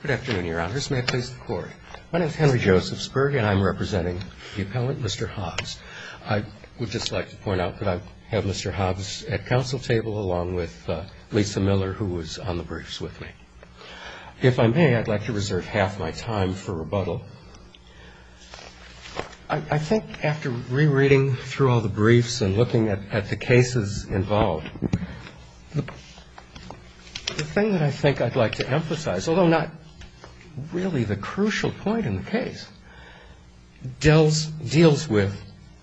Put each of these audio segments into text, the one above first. Good afternoon, Your Honors. May I please have the floor? My name is Henry Josephsburg, and I'm representing the appellant, Mr. Hobbs. I would just like to point out that I have Mr. Hobbs at counsel table along with Lisa Miller, who was on the briefs with me. If I may, I'd like to reserve half my time for rebuttal. I think after rereading through all the briefs and looking at the cases involved, the thing that I think I'd like to emphasize, although not really the crucial point in the case, deals with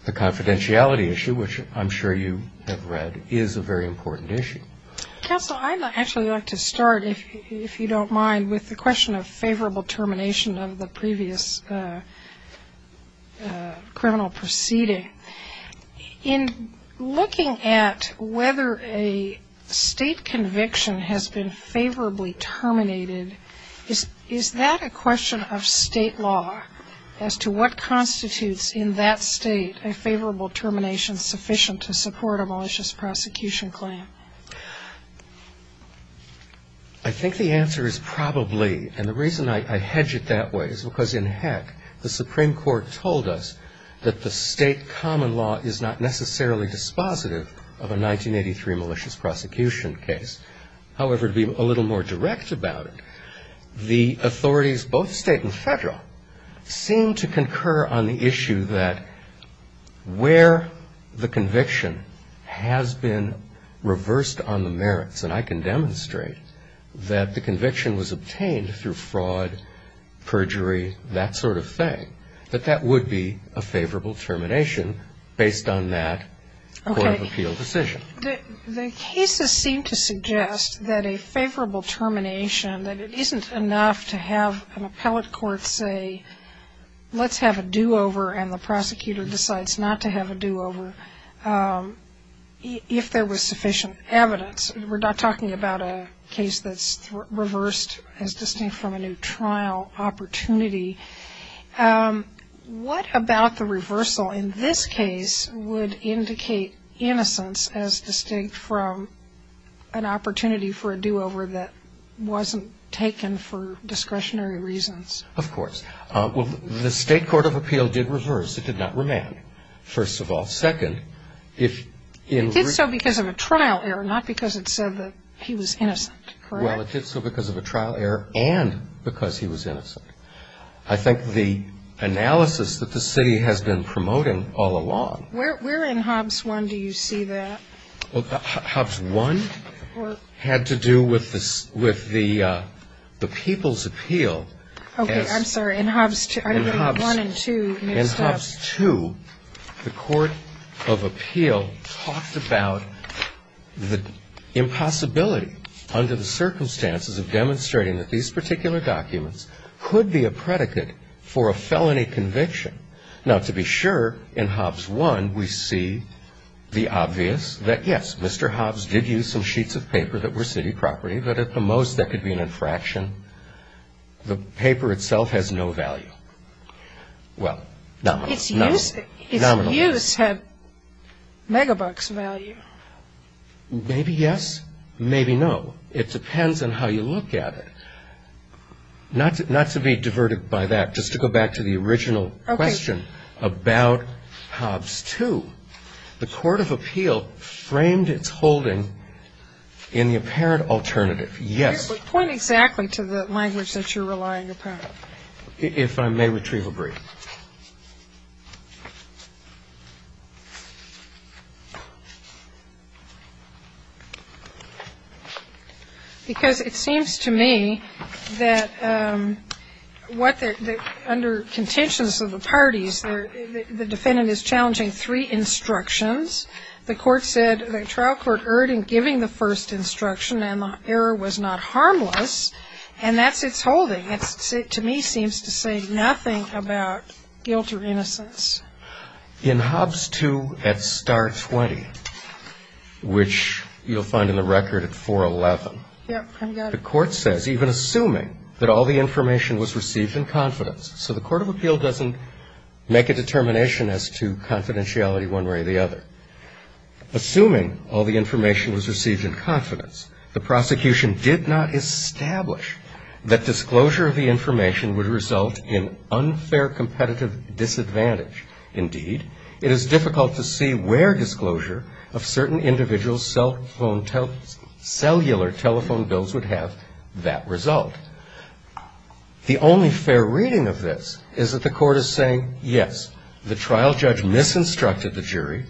the confidentiality issue, which I'm sure you have read is a very important issue. Counsel, I'd actually like to start, if you don't mind, with the question of favorable termination of the previous criminal proceeding. In looking at whether a state conviction has been favorably terminated, is that a question of state law as to what constitutes in that state a favorable termination sufficient to support a malicious prosecution claim? I think the answer is probably, and the reason I hedge it that way is because in heck, the Supreme Court told us that the state common law is not necessarily dispositive of a 1983 malicious prosecution case. However, to be a little more direct about it, the authorities, both state and federal, seem to concur on the issue that where the conviction has been reversed on the merits, and I can demonstrate that the conviction was obtained through fraud, perjury, that sort of thing, that that would be a favorable termination based on that court of appeal decision. The cases seem to suggest that a favorable termination, that it isn't enough to have an appellate court say, let's have a do-over, and the prosecutor decides not to have a do-over, if there was sufficient evidence. We're not talking about a case that's reversed as distinct from a new trial opportunity. What about the reversal in this case would indicate innocence as distinct from an opportunity for a do-over that wasn't taken for discretionary reasons? Of course. Well, the state court of appeal did reverse. It did not remand, first of all. It did so because of a trial error, not because it said that he was innocent. Correct? Well, it did so because of a trial error and because he was innocent. I think the analysis that the city has been promoting all along. Where in Hobbs I do you see that? Hobbs I had to do with the people's appeal. Okay. I'm sorry. In Hobbs I and II. And Hobbs II, the court of appeal talked about the impossibility under the circumstances of demonstrating that these particular documents could be a predicate for a felony conviction. Now, to be sure, in Hobbs I we see the obvious that, yes, Mr. Hobbs did use some sheets of paper that were city property, but at the most that could be an infraction. The paper itself has no value. Well, nominal. Its use had megabucks value. Maybe yes, maybe no. It depends on how you look at it. Not to be diverted by that, just to go back to the original question about Hobbs II. The court of appeal framed its holding in the apparent alternative. Yes. Point exactly to the language that you're relying upon. If I may, retrieval brief. Because it seems to me that under contentions of the parties, the defendant is challenging three instructions. The trial court erred in giving the first instruction, and the error was not harmless. And that's its holding. It, to me, seems to say nothing about guilt or innocence. In Hobbs II at star 20, which you'll find in the record at 411, the court says, even assuming that all the information was received in confidence. So the court of appeal doesn't make a determination as to confidentiality one way or the other. Assuming all the information was received in confidence, the prosecution did not establish that disclosure of the information would result in unfair competitive disadvantage. Indeed, it is difficult to see where disclosure of certain individuals' cell phone bills would have that result. The only fair reading of this is that the court is saying, yes, the trial judge misinstructed the jury,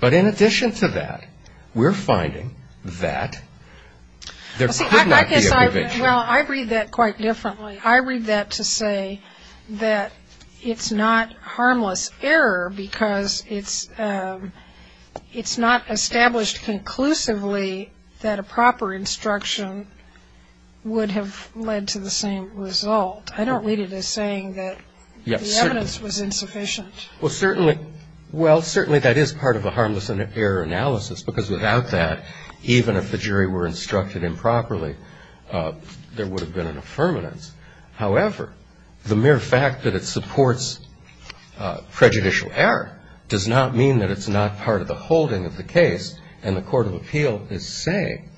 but in addition to that, we're finding that there could not be a conviction. Well, I read that quite differently. I read that to say that it's not harmless error because it's not established conclusively that a proper instruction would have led to the same result. I don't read it as saying that the evidence was insufficient. Well, certainly that is part of a harmless error analysis because without that, even if the jury were instructed improperly, there would have been an affirmance. However, the mere fact that it supports prejudicial error does not mean that it's not part of the holding of the case, and the court of appeal is saying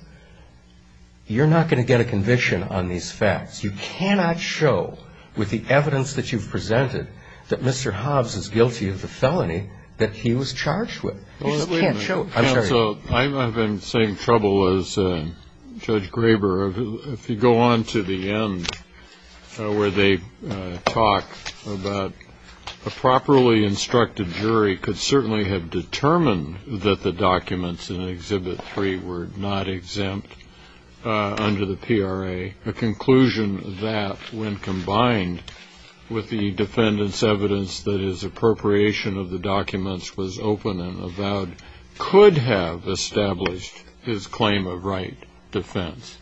you're not going to get a conviction on these facts. You cannot show with the evidence that you've presented that Mr. Hobbs is guilty of the felony that he was charged with. You just can't show it. I'm sorry. I'm having the same trouble as Judge Graber. If you go on to the end where they talk about a properly instructed jury could certainly have determined that the documents in Exhibit 3 were not exempt under the PRA, a conclusion that when combined with the defendant's evidence that his appropriation of the documents was open and avowed could have established his claim of right defense.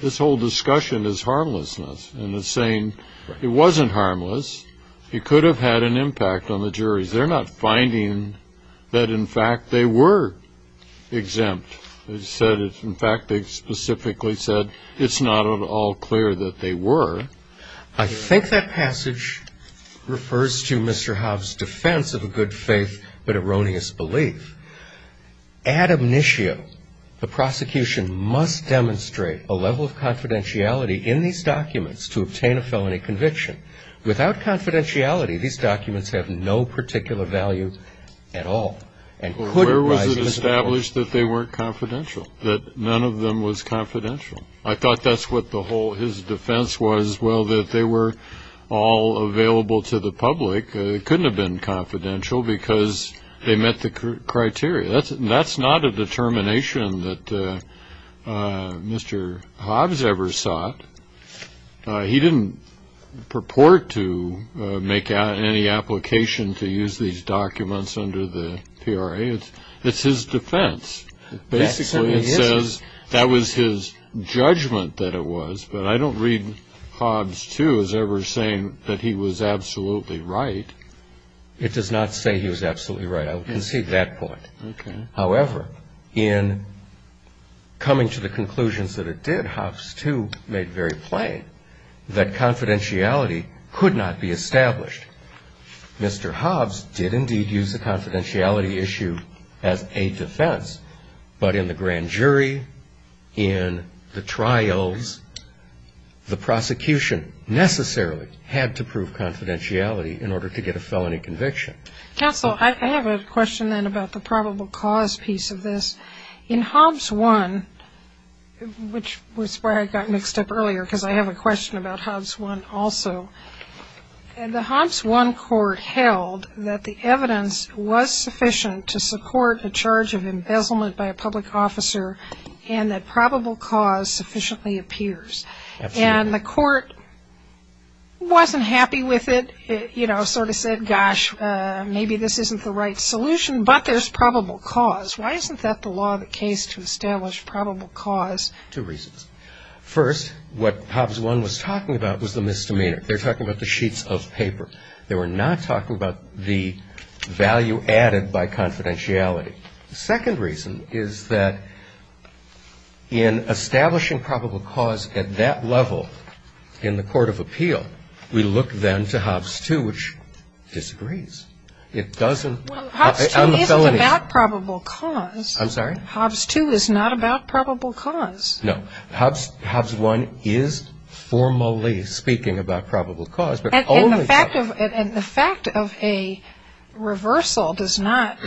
This whole discussion is harmlessness, and it's saying it wasn't harmless. I think that passage refers to Mr. Hobbs' defense of a good faith but erroneous belief. Ad omnisio, the prosecution must demonstrate a level of confidentiality in these documents to obtain a felony conviction. Without confidentiality, these documents have no particular validity. Where was it established that they weren't confidential, that none of them was confidential? I thought that's what his defense was, well, that they were all available to the public. It couldn't have been confidential because they met the criteria. That's not a determination that Mr. Hobbs ever sought. He didn't purport to make any application to use these documents under the PRA. It's his defense. Basically, it says that was his judgment that it was, but I don't read Hobbs, too, as ever saying that he was absolutely right. It does not say he was absolutely right. I will concede that point. Okay. However, in coming to the conclusions that it did, Hobbs, too, made very plain that confidentiality could not be established. Mr. Hobbs did indeed use a confidentiality issue as a defense, but in the grand jury, in the trials, the prosecution necessarily had to prove confidentiality in order to get a felony conviction. Counsel, I have a question, then, about the probable cause piece of this. In Hobbs I, which was where I got mixed up earlier because I have a question about Hobbs I also, the Hobbs I court held that the evidence was sufficient to support a charge of embezzlement by a public officer and that probable cause sufficiently appears. Absolutely. And the court wasn't happy with it. It sort of said, gosh, maybe this isn't the right solution, but there's probable cause. Why isn't that the law of the case to establish probable cause? Two reasons. First, what Hobbs I was talking about was the misdemeanor. They're talking about the sheets of paper. They were not talking about the value added by confidentiality. The second reason is that in establishing probable cause at that level in the court of appeal, we look then to Hobbs II, which disagrees. It doesn't. Hobbs II isn't about probable cause. I'm sorry? Hobbs II is not about probable cause. No. Hobbs I is formally speaking about probable cause. And the fact of a reversal does not,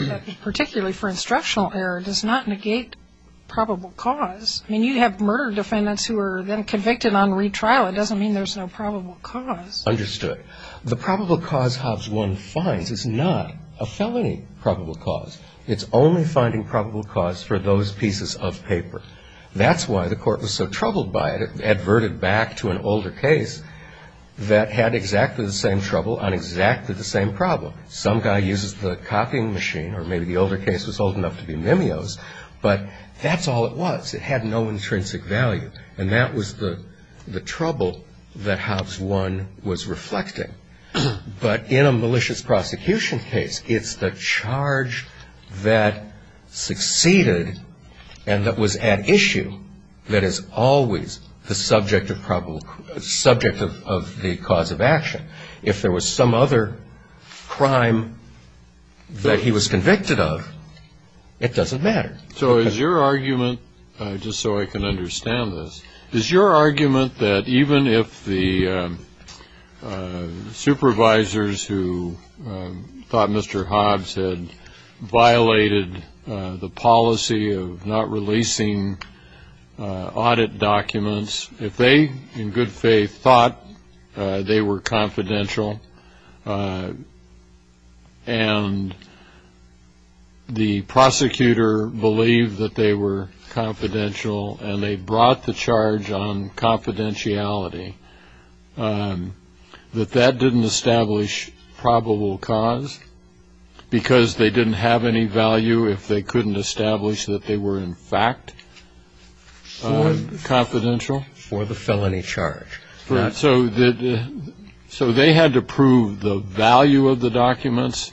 particularly for instructional error, does not negate probable cause. I mean, you have murder defendants who are then convicted on retrial. No, it doesn't mean there's no probable cause. Understood. The probable cause Hobbs I finds is not a felony probable cause. It's only finding probable cause for those pieces of paper. That's why the court was so troubled by it. It adverted back to an older case that had exactly the same trouble on exactly the same problem. Some guy uses the copying machine, or maybe the older case was old enough to be mimeos, but that's all it was. It had no intrinsic value. And that was the trouble that Hobbs I was reflecting. But in a malicious prosecution case, it's the charge that succeeded and that was at issue that is always the subject of the cause of action. If there was some other crime that he was convicted of, it doesn't matter. So is your argument, just so I can understand this, is your argument that even if the supervisors who thought Mr. Hobbs had violated the policy of not releasing audit documents, if they, in good faith, thought they were confidential and the prosecutor believed that they were confidential and they brought the charge on confidentiality, that that didn't establish probable cause because they didn't have any value if they couldn't establish that they were in fact confidential? For the felony charge. So they had to prove the value of the documents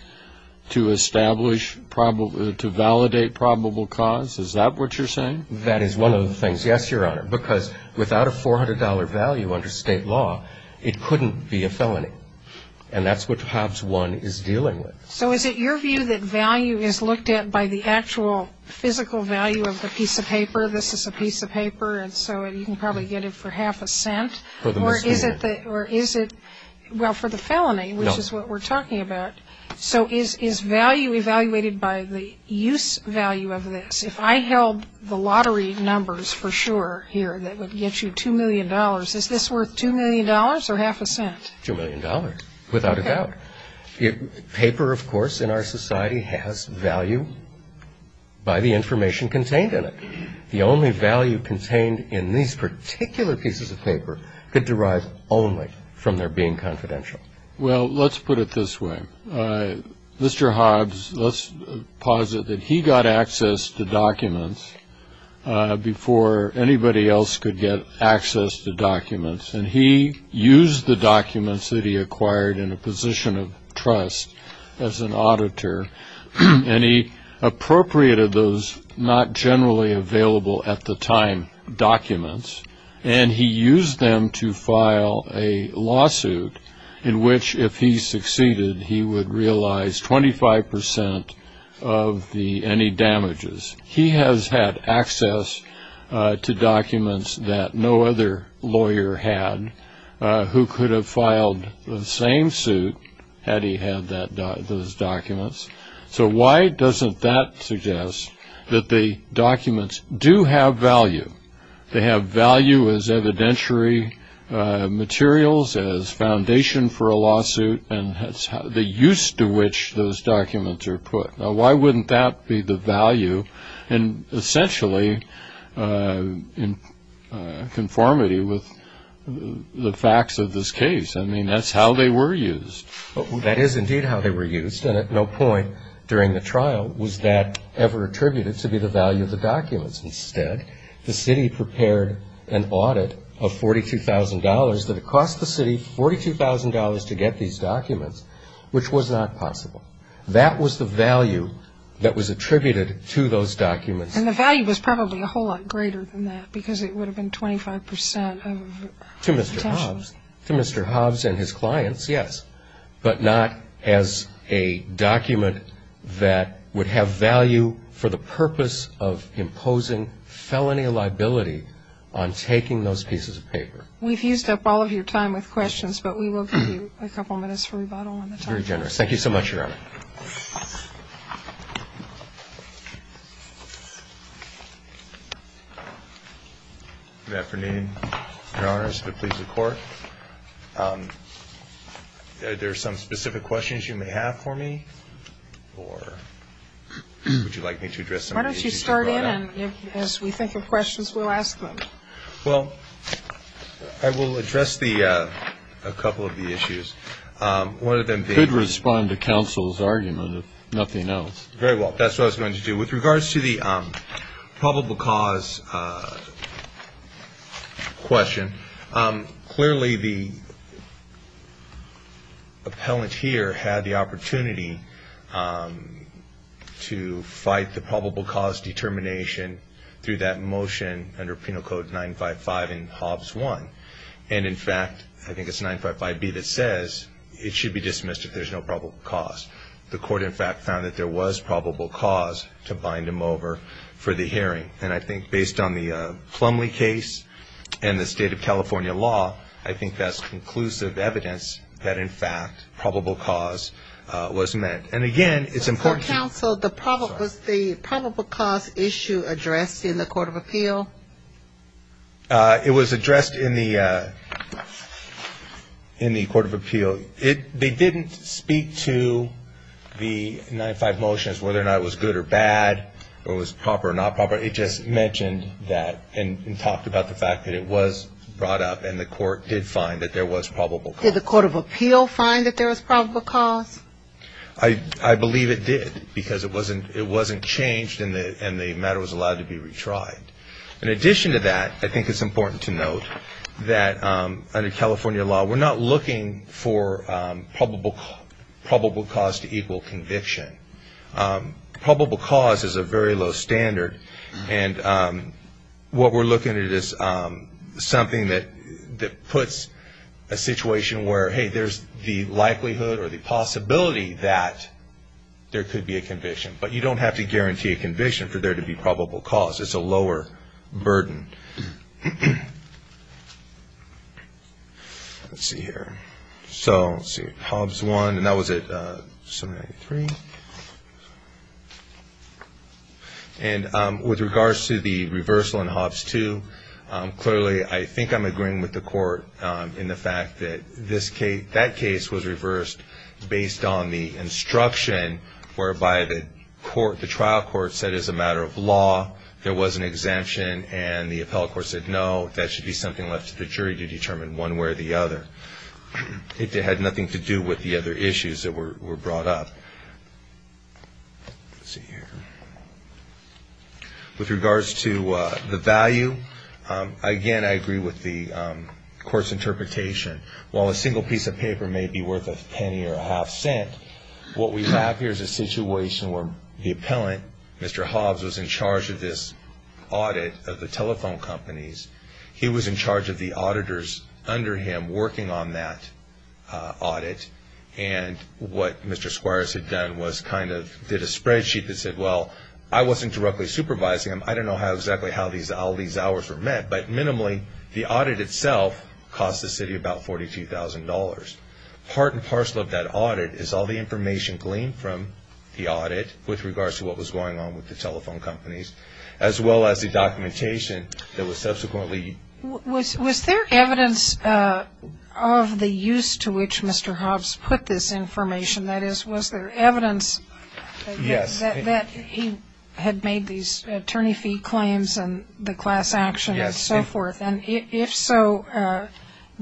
to establish, to validate probable cause? Is that what you're saying? That is one of the things, yes, Your Honor, because without a $400 value under state law, it couldn't be a felony. And that's what Hobbs 1 is dealing with. So is it your view that value is looked at by the actual physical value of the piece of paper? This is a piece of paper and so you can probably get it for half a cent? For the misdemeanor. Or is it, well, for the felony, which is what we're talking about. So is value evaluated by the use value of this? If I held the lottery numbers for sure here that would get you $2 million, is this worth $2 million or half a cent? $2 million, without a doubt. Paper, of course, in our society has value by the information contained in it. The only value contained in these particular pieces of paper could derive only from their being confidential. Well, let's put it this way. Mr. Hobbs, let's posit that he got access to documents before anybody else could get access to documents. And he used the documents that he acquired in a position of trust as an auditor. And he appropriated those not generally available at the time documents. And he used them to file a lawsuit in which, if he succeeded, he would realize 25% of any damages. He has had access to documents that no other lawyer had who could have filed the same suit had he had those documents. So why doesn't that suggest that the documents do have value? They have value as evidentiary materials, as foundation for a lawsuit, and the use to which those documents are put. Now, why wouldn't that be the value and essentially in conformity with the facts of this case? I mean, that's how they were used. That is indeed how they were used. And at no point during the trial was that ever attributed to be the value of the documents. Instead, the city prepared an audit of $42,000 that it cost the city $42,000 to get these documents, which was not possible. That was the value that was attributed to those documents. And the value was probably a whole lot greater than that because it would have been 25% of the potential. To Mr. Hobbs. To Mr. Hobbs and his clients, yes. But not as a document that would have value for the purpose of imposing felony liability on taking those pieces of paper. We've used up all of your time with questions, but we will give you a couple minutes for rebuttal on the topic. Very generous. Thank you so much, Your Honor. Good afternoon, Your Honors, the police and court. There are some specific questions you may have for me, or would you like me to address them? Why don't you start in, and as we think of questions, we'll ask them. Well, I will address a couple of the issues. You could respond to counsel's argument if nothing else. Very well. That's what I was going to do. With regards to the probable cause question, clearly the appellant here had the opportunity to fight the probable cause determination through that motion under Penal Code 955 in Hobbs 1. And, in fact, I think it's 955B that says it should be dismissed if there's no probable cause. The court, in fact, found that there was probable cause to bind him over for the hearing. And I think based on the Plumlee case and the State of California law, I think that's conclusive evidence that, in fact, probable cause was met. And, again, it's important to you. Counsel, was the probable cause issue addressed in the Court of Appeal? It was addressed in the Court of Appeal. They didn't speak to the 955 motions, whether or not it was good or bad, whether it was proper or not proper. It just mentioned that and talked about the fact that it was brought up and the court did find that there was probable cause. Did the Court of Appeal find that there was probable cause? I believe it did because it wasn't changed and the matter was allowed to be retried. In addition to that, I think it's important to note that, under California law, we're not looking for probable cause to equal conviction. Probable cause is a very low standard. And what we're looking at is something that puts a situation where, hey, there's the likelihood or the possibility that there could be a conviction. But you don't have to guarantee a conviction for there to be probable cause. It's a lower burden. Let's see here. So let's see. Hobbs 1, and that was at 793. And with regards to the reversal in Hobbs 2, clearly I think I'm agreeing with the Court in the fact that that case was reversed based on the instruction whereby the trial court said, as a matter of law, there was an exemption, and the appellate court said, no, that should be something left to the jury to determine one way or the other. It had nothing to do with the other issues that were brought up. Let's see here. With regards to the value, again, I agree with the court's interpretation. While a single piece of paper may be worth a penny or a half cent, what we have here is a situation where the appellant, Mr. Hobbs, was in charge of this audit of the telephone companies. He was in charge of the auditors under him working on that audit. And what Mr. Suarez had done was kind of did a spreadsheet that said, well, I wasn't directly supervising him. I don't know exactly how all these hours were met, but minimally the audit itself cost the city about $42,000. Part and parcel of that audit is all the information gleaned from the audit with regards to what was going on with the telephone companies, as well as the documentation that was subsequently used. Was there evidence of the use to which Mr. Hobbs put this information? That is, was there evidence that he had made these attorney fee claims and the class action and so forth? Yes. And if so,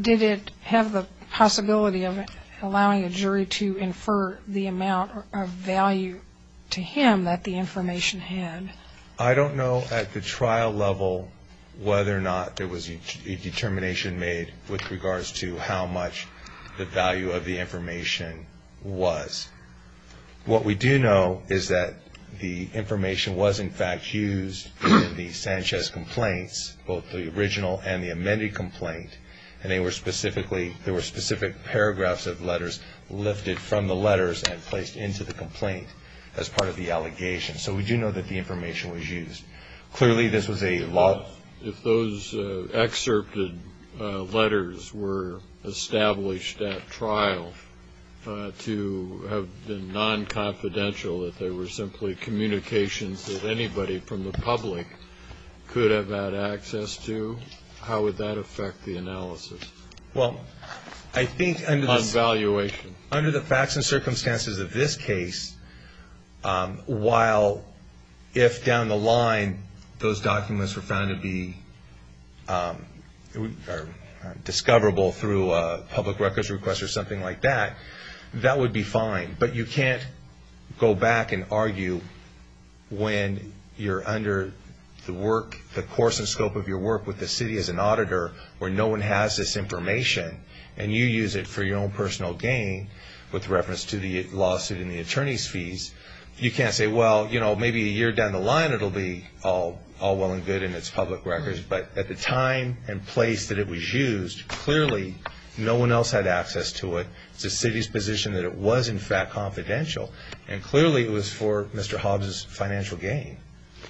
did it have the possibility of allowing a jury to infer the amount of value to him that the information had? I don't know at the trial level whether or not there was a determination made with regards to how much the value of the information was. What we do know is that the information was, in fact, used in the Sanchez complaints, both the original and the amended complaint, and there were specific paragraphs of letters lifted from the letters and placed into the complaint as part of the allegation. So we do know that the information was used. Clearly this was a law. If those excerpted letters were established at trial to have been non-confidential, that they were simply communications that anybody from the public could have had access to, how would that affect the analysis? Well, I think under the facts and circumstances of this case, while if down the line those documents were found to be discoverable through a public records request or something like that, that would be fine. But you can't go back and argue when you're under the course and scope of your work with the city as an auditor where no one has this information and you use it for your own personal gain with reference to the lawsuit and the attorney's fees. You can't say, well, maybe a year down the line it will be all well and good in its public records. But at the time and place that it was used, clearly no one else had access to it. It's the city's position that it was, in fact, confidential. And clearly it was for Mr. Hobbs' financial gain.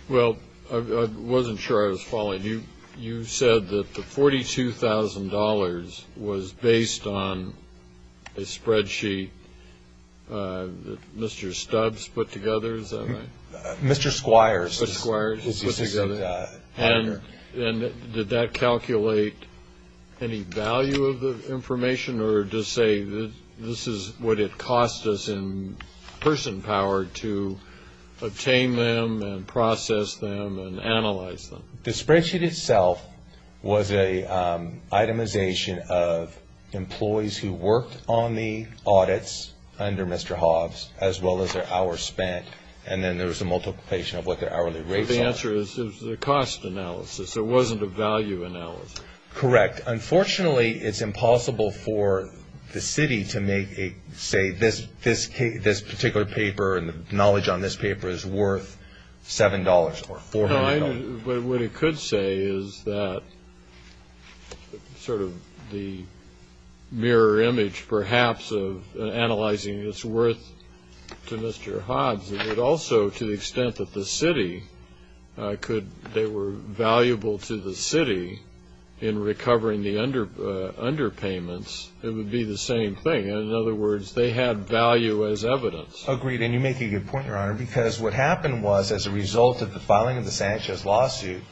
Well, I wasn't sure I was following. You said that the $42,000 was based on a spreadsheet that Mr. Stubbs put together, is that right? Mr. Squires. Mr. Squires put together. And did that calculate any value of the information or to say this is what it cost us in person power to obtain them and process them and analyze them? The spreadsheet itself was an itemization of employees who worked on the audits under Mr. Hobbs as well as their hours spent, and then there was a multiplication of what their hourly rates are. So the answer is the cost analysis. It wasn't a value analysis. Correct. Unfortunately, it's impossible for the city to make, say, this particular paper and the knowledge on this paper is worth $7 or $400. What it could say is that sort of the mirror image perhaps of analyzing its worth to Mr. Hobbs, it would also, to the extent that they were valuable to the city in recovering the underpayments, it would be the same thing. In other words, they had value as evidence. Agreed, and you make a good point, Your Honor, because what happened was as a result of the filing of the Sanchez lawsuit,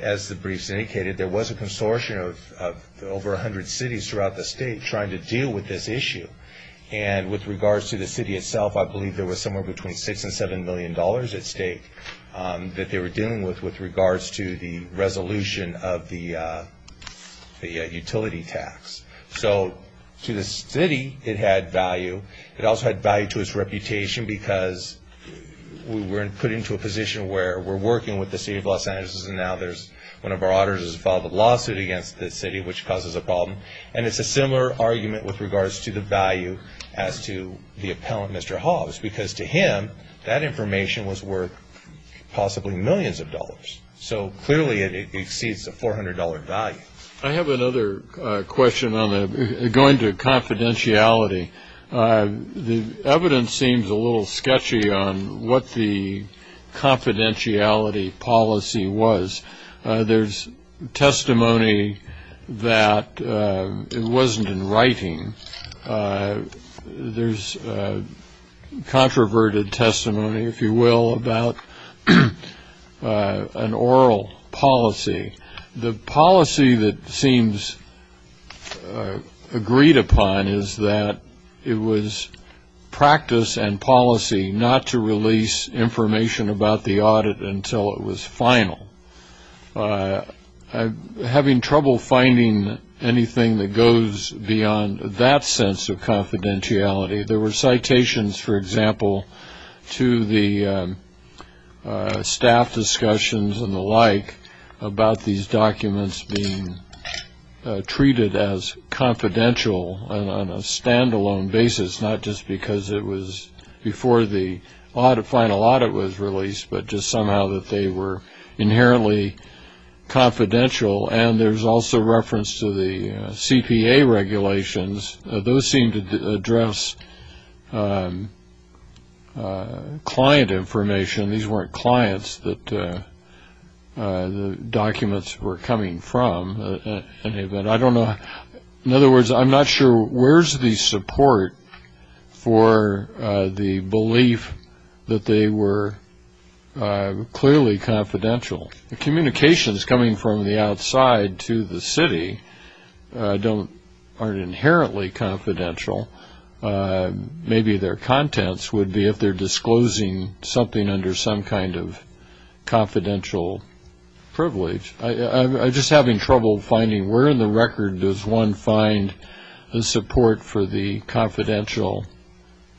as the briefs indicated, there was a consortium of over 100 cities throughout the state trying to deal with this issue. And with regards to the city itself, I believe there was somewhere between $6 and $7 million at stake that they were dealing with with regards to the resolution of the utility tax. So to the city, it had value. It also had value to its reputation because we were put into a position where we're working with the city of Los Angeles, and now one of our auditors has filed a lawsuit against the city, which causes a problem. And it's a similar argument with regards to the value as to the appellant, Mr. Hobbs, because to him that information was worth possibly millions of dollars. So clearly it exceeds the $400 value. I have another question going to confidentiality. The evidence seems a little sketchy on what the confidentiality policy was. There's testimony that it wasn't in writing. There's controverted testimony, if you will, about an oral policy. The policy that seems agreed upon is that it was practice and policy not to release information about the audit until it was final. Having trouble finding anything that goes beyond that sense of confidentiality, there were citations, for example, to the staff discussions and the like about these documents being treated as confidential on a standalone basis, not just because it was before the final audit was released, but just somehow that they were inherently confidential. And there's also reference to the CPA regulations. Those seem to address client information. These weren't clients that the documents were coming from. I don't know. In other words, I'm not sure where's the support for the belief that they were clearly confidential. The communications coming from the outside to the city aren't inherently confidential. Maybe their contents would be if they're disclosing something under some kind of confidential privilege. I'm just having trouble finding where in the record does one find the support for the confidential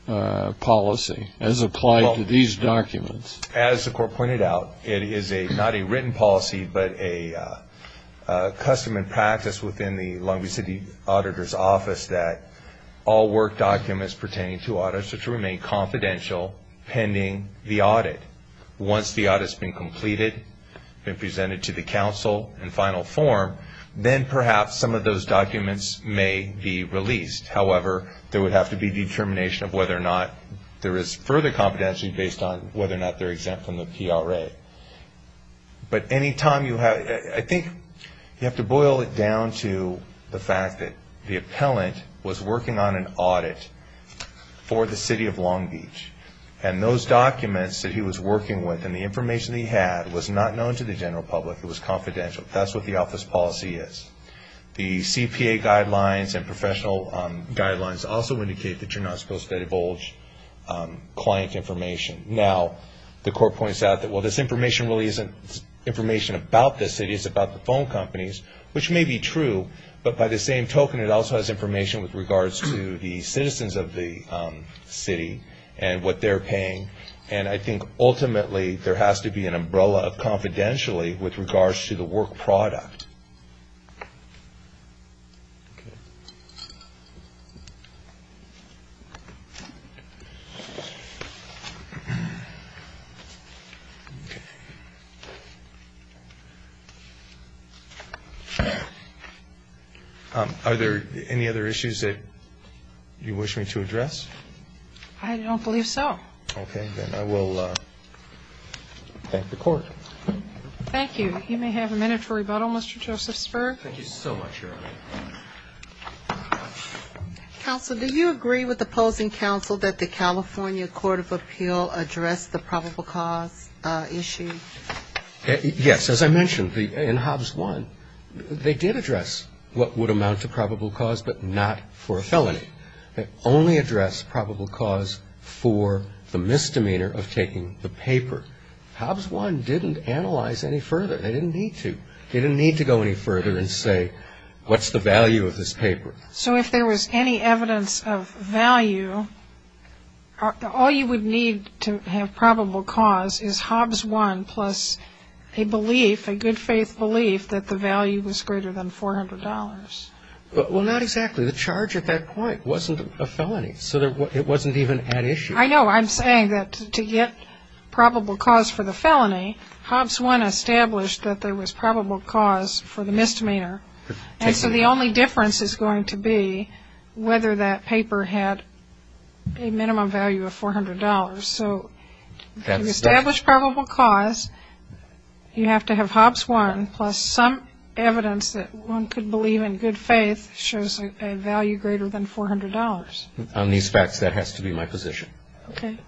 policy as applied to these documents. As the Court pointed out, it is not a written policy, but a custom and practice within the Long Beach City Auditor's Office that all work documents pertaining to audits are to remain confidential pending the audit. Once the audit's been completed, been presented to the council in final form, then perhaps some of those documents may be released. However, there would have to be determination of whether or not there is further confidentiality based on whether or not they're exempt from the PRA. But any time you have to boil it down to the fact that the appellant was working on an audit for the city of Long Beach, and those documents that he was working with and the information that he had was not known to the general public, it was confidential, that's what the office policy is. The CPA guidelines and professional guidelines also indicate that you're not supposed to divulge client information. Now, the Court points out that while this information really isn't information about the city, it's about the phone companies, which may be true, but by the same token it also has information with regards to the citizens of the city and what they're paying. And I think ultimately there has to be an umbrella of confidentially with regards to the work product. Are there any other issues that you wish me to address? I don't believe so. Okay. Then I will thank the Court. Thank you. You may have a minute for rebuttal, Mr. Joseph Spurr. Thank you so much, Your Honor. Counsel, do you agree with opposing counsel that the California Court of Appeal addressed the probable cause issue? Yes. As I mentioned, in Hobbs I, they did address what would amount to probable cause but not for a felony. They only addressed probable cause for the misdemeanor of taking the paper. Hobbs I didn't analyze any further. They didn't need to. They didn't need to go any further and say, what's the value of this paper? So if there was any evidence of value, all you would need to have probable cause is Hobbs I plus a belief, a good-faith belief, that the value was greater than $400. Well, not exactly. The charge at that point wasn't a felony, so it wasn't even at issue. I know. I'm saying that to get probable cause for the felony, Hobbs I established that there was probable cause for the misdemeanor. And so the only difference is going to be whether that paper had a minimum value of $400. So to establish probable cause, you have to have Hobbs I plus some evidence that one could believe in good faith shows a value greater than $400. On these facts, that has to be my position. Okay.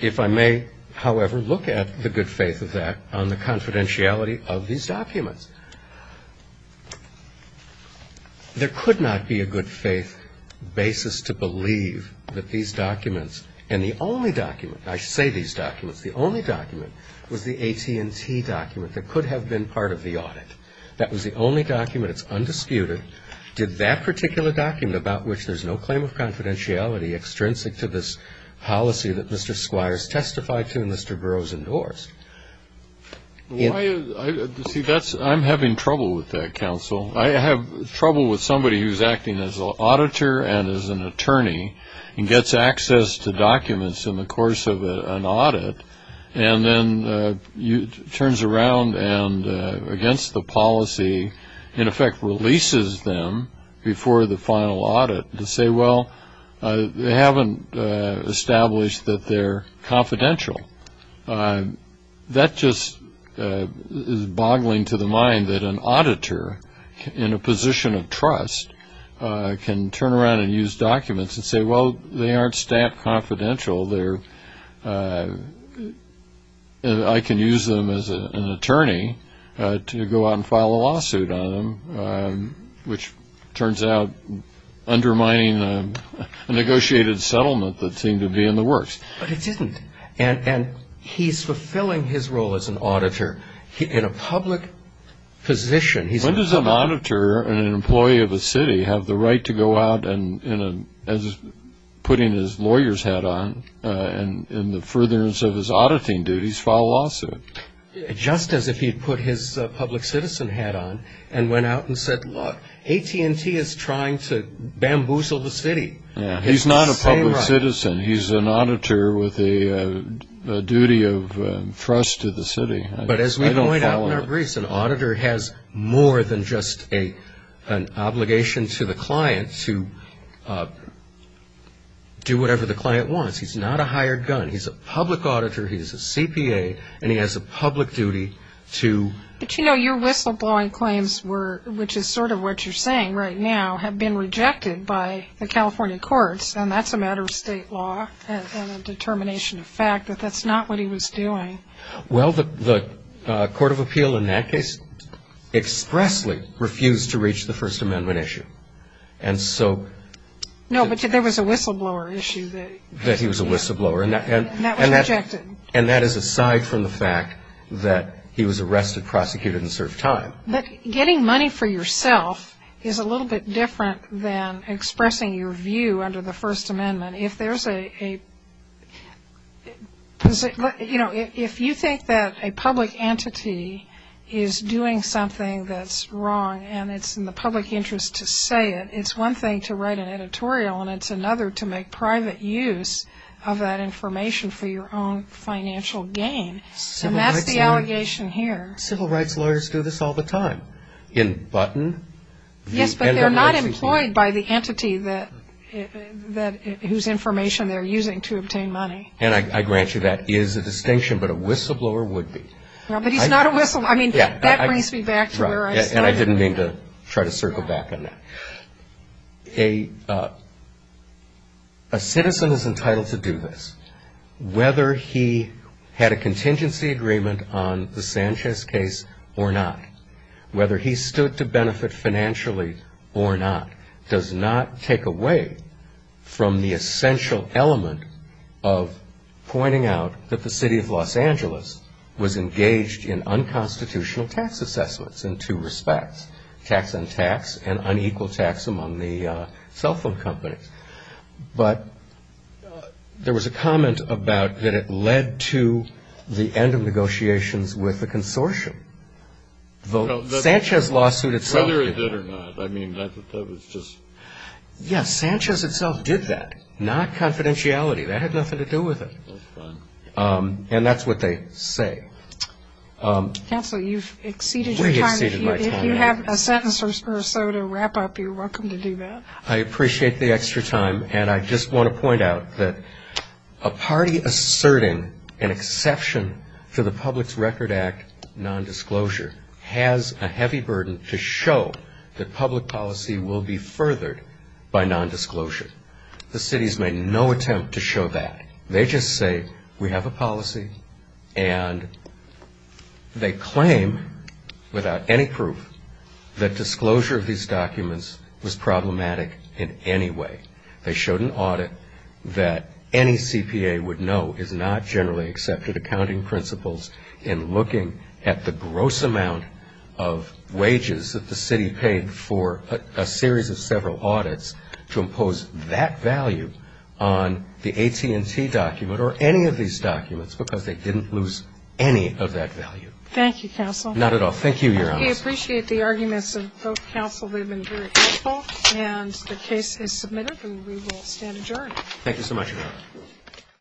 If I may, however, look at the good faith of that on the confidentiality of these documents. There could not be a good faith basis to believe that these documents and the only document, I say these documents, the only document was the AT&T document that could have been part of the audit. That was the only document. It's undisputed. Did that particular document about which there's no claim of confidentiality extrinsic to this policy that Mr. Squires testified to and Mr. Burroughs endorsed? See, I'm having trouble with that, counsel. I have trouble with somebody who's acting as an auditor and as an attorney and gets access to documents in the course of an audit and then turns around and, against the policy, in effect releases them before the final audit to say, well, they haven't established that they're confidential. That just is boggling to the mind that an auditor in a position of trust can turn around and use documents and say, well, they aren't stamped confidential. I can use them as an attorney to go out and file a lawsuit on them, which turns out undermining a negotiated settlement that seemed to be in the works. But it isn't. And he's fulfilling his role as an auditor in a public position. When does a monitor and an employee of a city have the right to go out and, as putting his lawyer's hat on in the furtherance of his auditing duties, file a lawsuit? Just as if he had put his public citizen hat on and went out and said, look, AT&T is trying to bamboozle the city. He's not a public citizen. He's an auditor with a duty of trust to the city. But as we point out in our briefs, an auditor has more than just an obligation to the client to do whatever the client wants. He's not a hired gun. He's a public auditor, he's a CPA, and he has a public duty to... But, you know, your whistleblowing claims were, which is sort of what you're saying right now, have been rejected by the California courts, and that's a matter of state law and a determination of fact that that's not what he was doing. Well, the court of appeal in that case expressly refused to reach the First Amendment issue. And so... No, but there was a whistleblower issue that... He was a whistleblower. And that was rejected. And that is aside from the fact that he was arrested, prosecuted, and served time. But getting money for yourself is a little bit different than expressing your view under the First Amendment. If there's a... You know, if you think that a public entity is doing something that's wrong and it's in the public interest to say it, it's one thing to write an editorial and it's another to make private use of that information for your own financial gain. And that's the allegation here. Civil rights lawyers do this all the time in Button. Yes, but they're not employed by the entity whose information they're using to obtain money. And I grant you that is a distinction, but a whistleblower would be. But he's not a whistleblower. I mean, that brings me back to where I started. And I didn't mean to try to circle back on that. A citizen is entitled to do this. Whether he had a contingency agreement on the Sanchez case or not, whether he stood to benefit financially or not, does not take away from the essential element of pointing out that the city of Los Angeles was engaged in unconstitutional tax assessments in two respects, tax on tax and unequal tax among the cell phone companies. But there was a comment about that it led to the end of negotiations with the consortium. The Sanchez lawsuit itself did that. Whether it did or not, I mean, that was just. Yes, Sanchez itself did that, not confidentiality. That had nothing to do with it. That's fine. And that's what they say. Counsel, you've exceeded your time. I've exceeded my time. If you have a sentence or so to wrap up, you're welcome to do that. I appreciate the extra time. And I just want to point out that a party asserting an exception to the Public Record Act nondisclosure has a heavy burden to show that public policy will be furthered by nondisclosure. The cities made no attempt to show that. They just say, we have a policy, and they claim, without any proof, that disclosure of these documents was problematic in any way. They showed an audit that any CPA would know is not generally accepted accounting principles in looking at the gross amount of wages that the city paid for a series of several audits to impose that value on the AT&T document or any of these documents because they didn't lose any of that value. Thank you, counsel. Not at all. Thank you, Your Honor. We appreciate the arguments of both counsel. They've been very helpful. And the case is submitted, and we will stand adjourned. Thank you so much, Your Honor.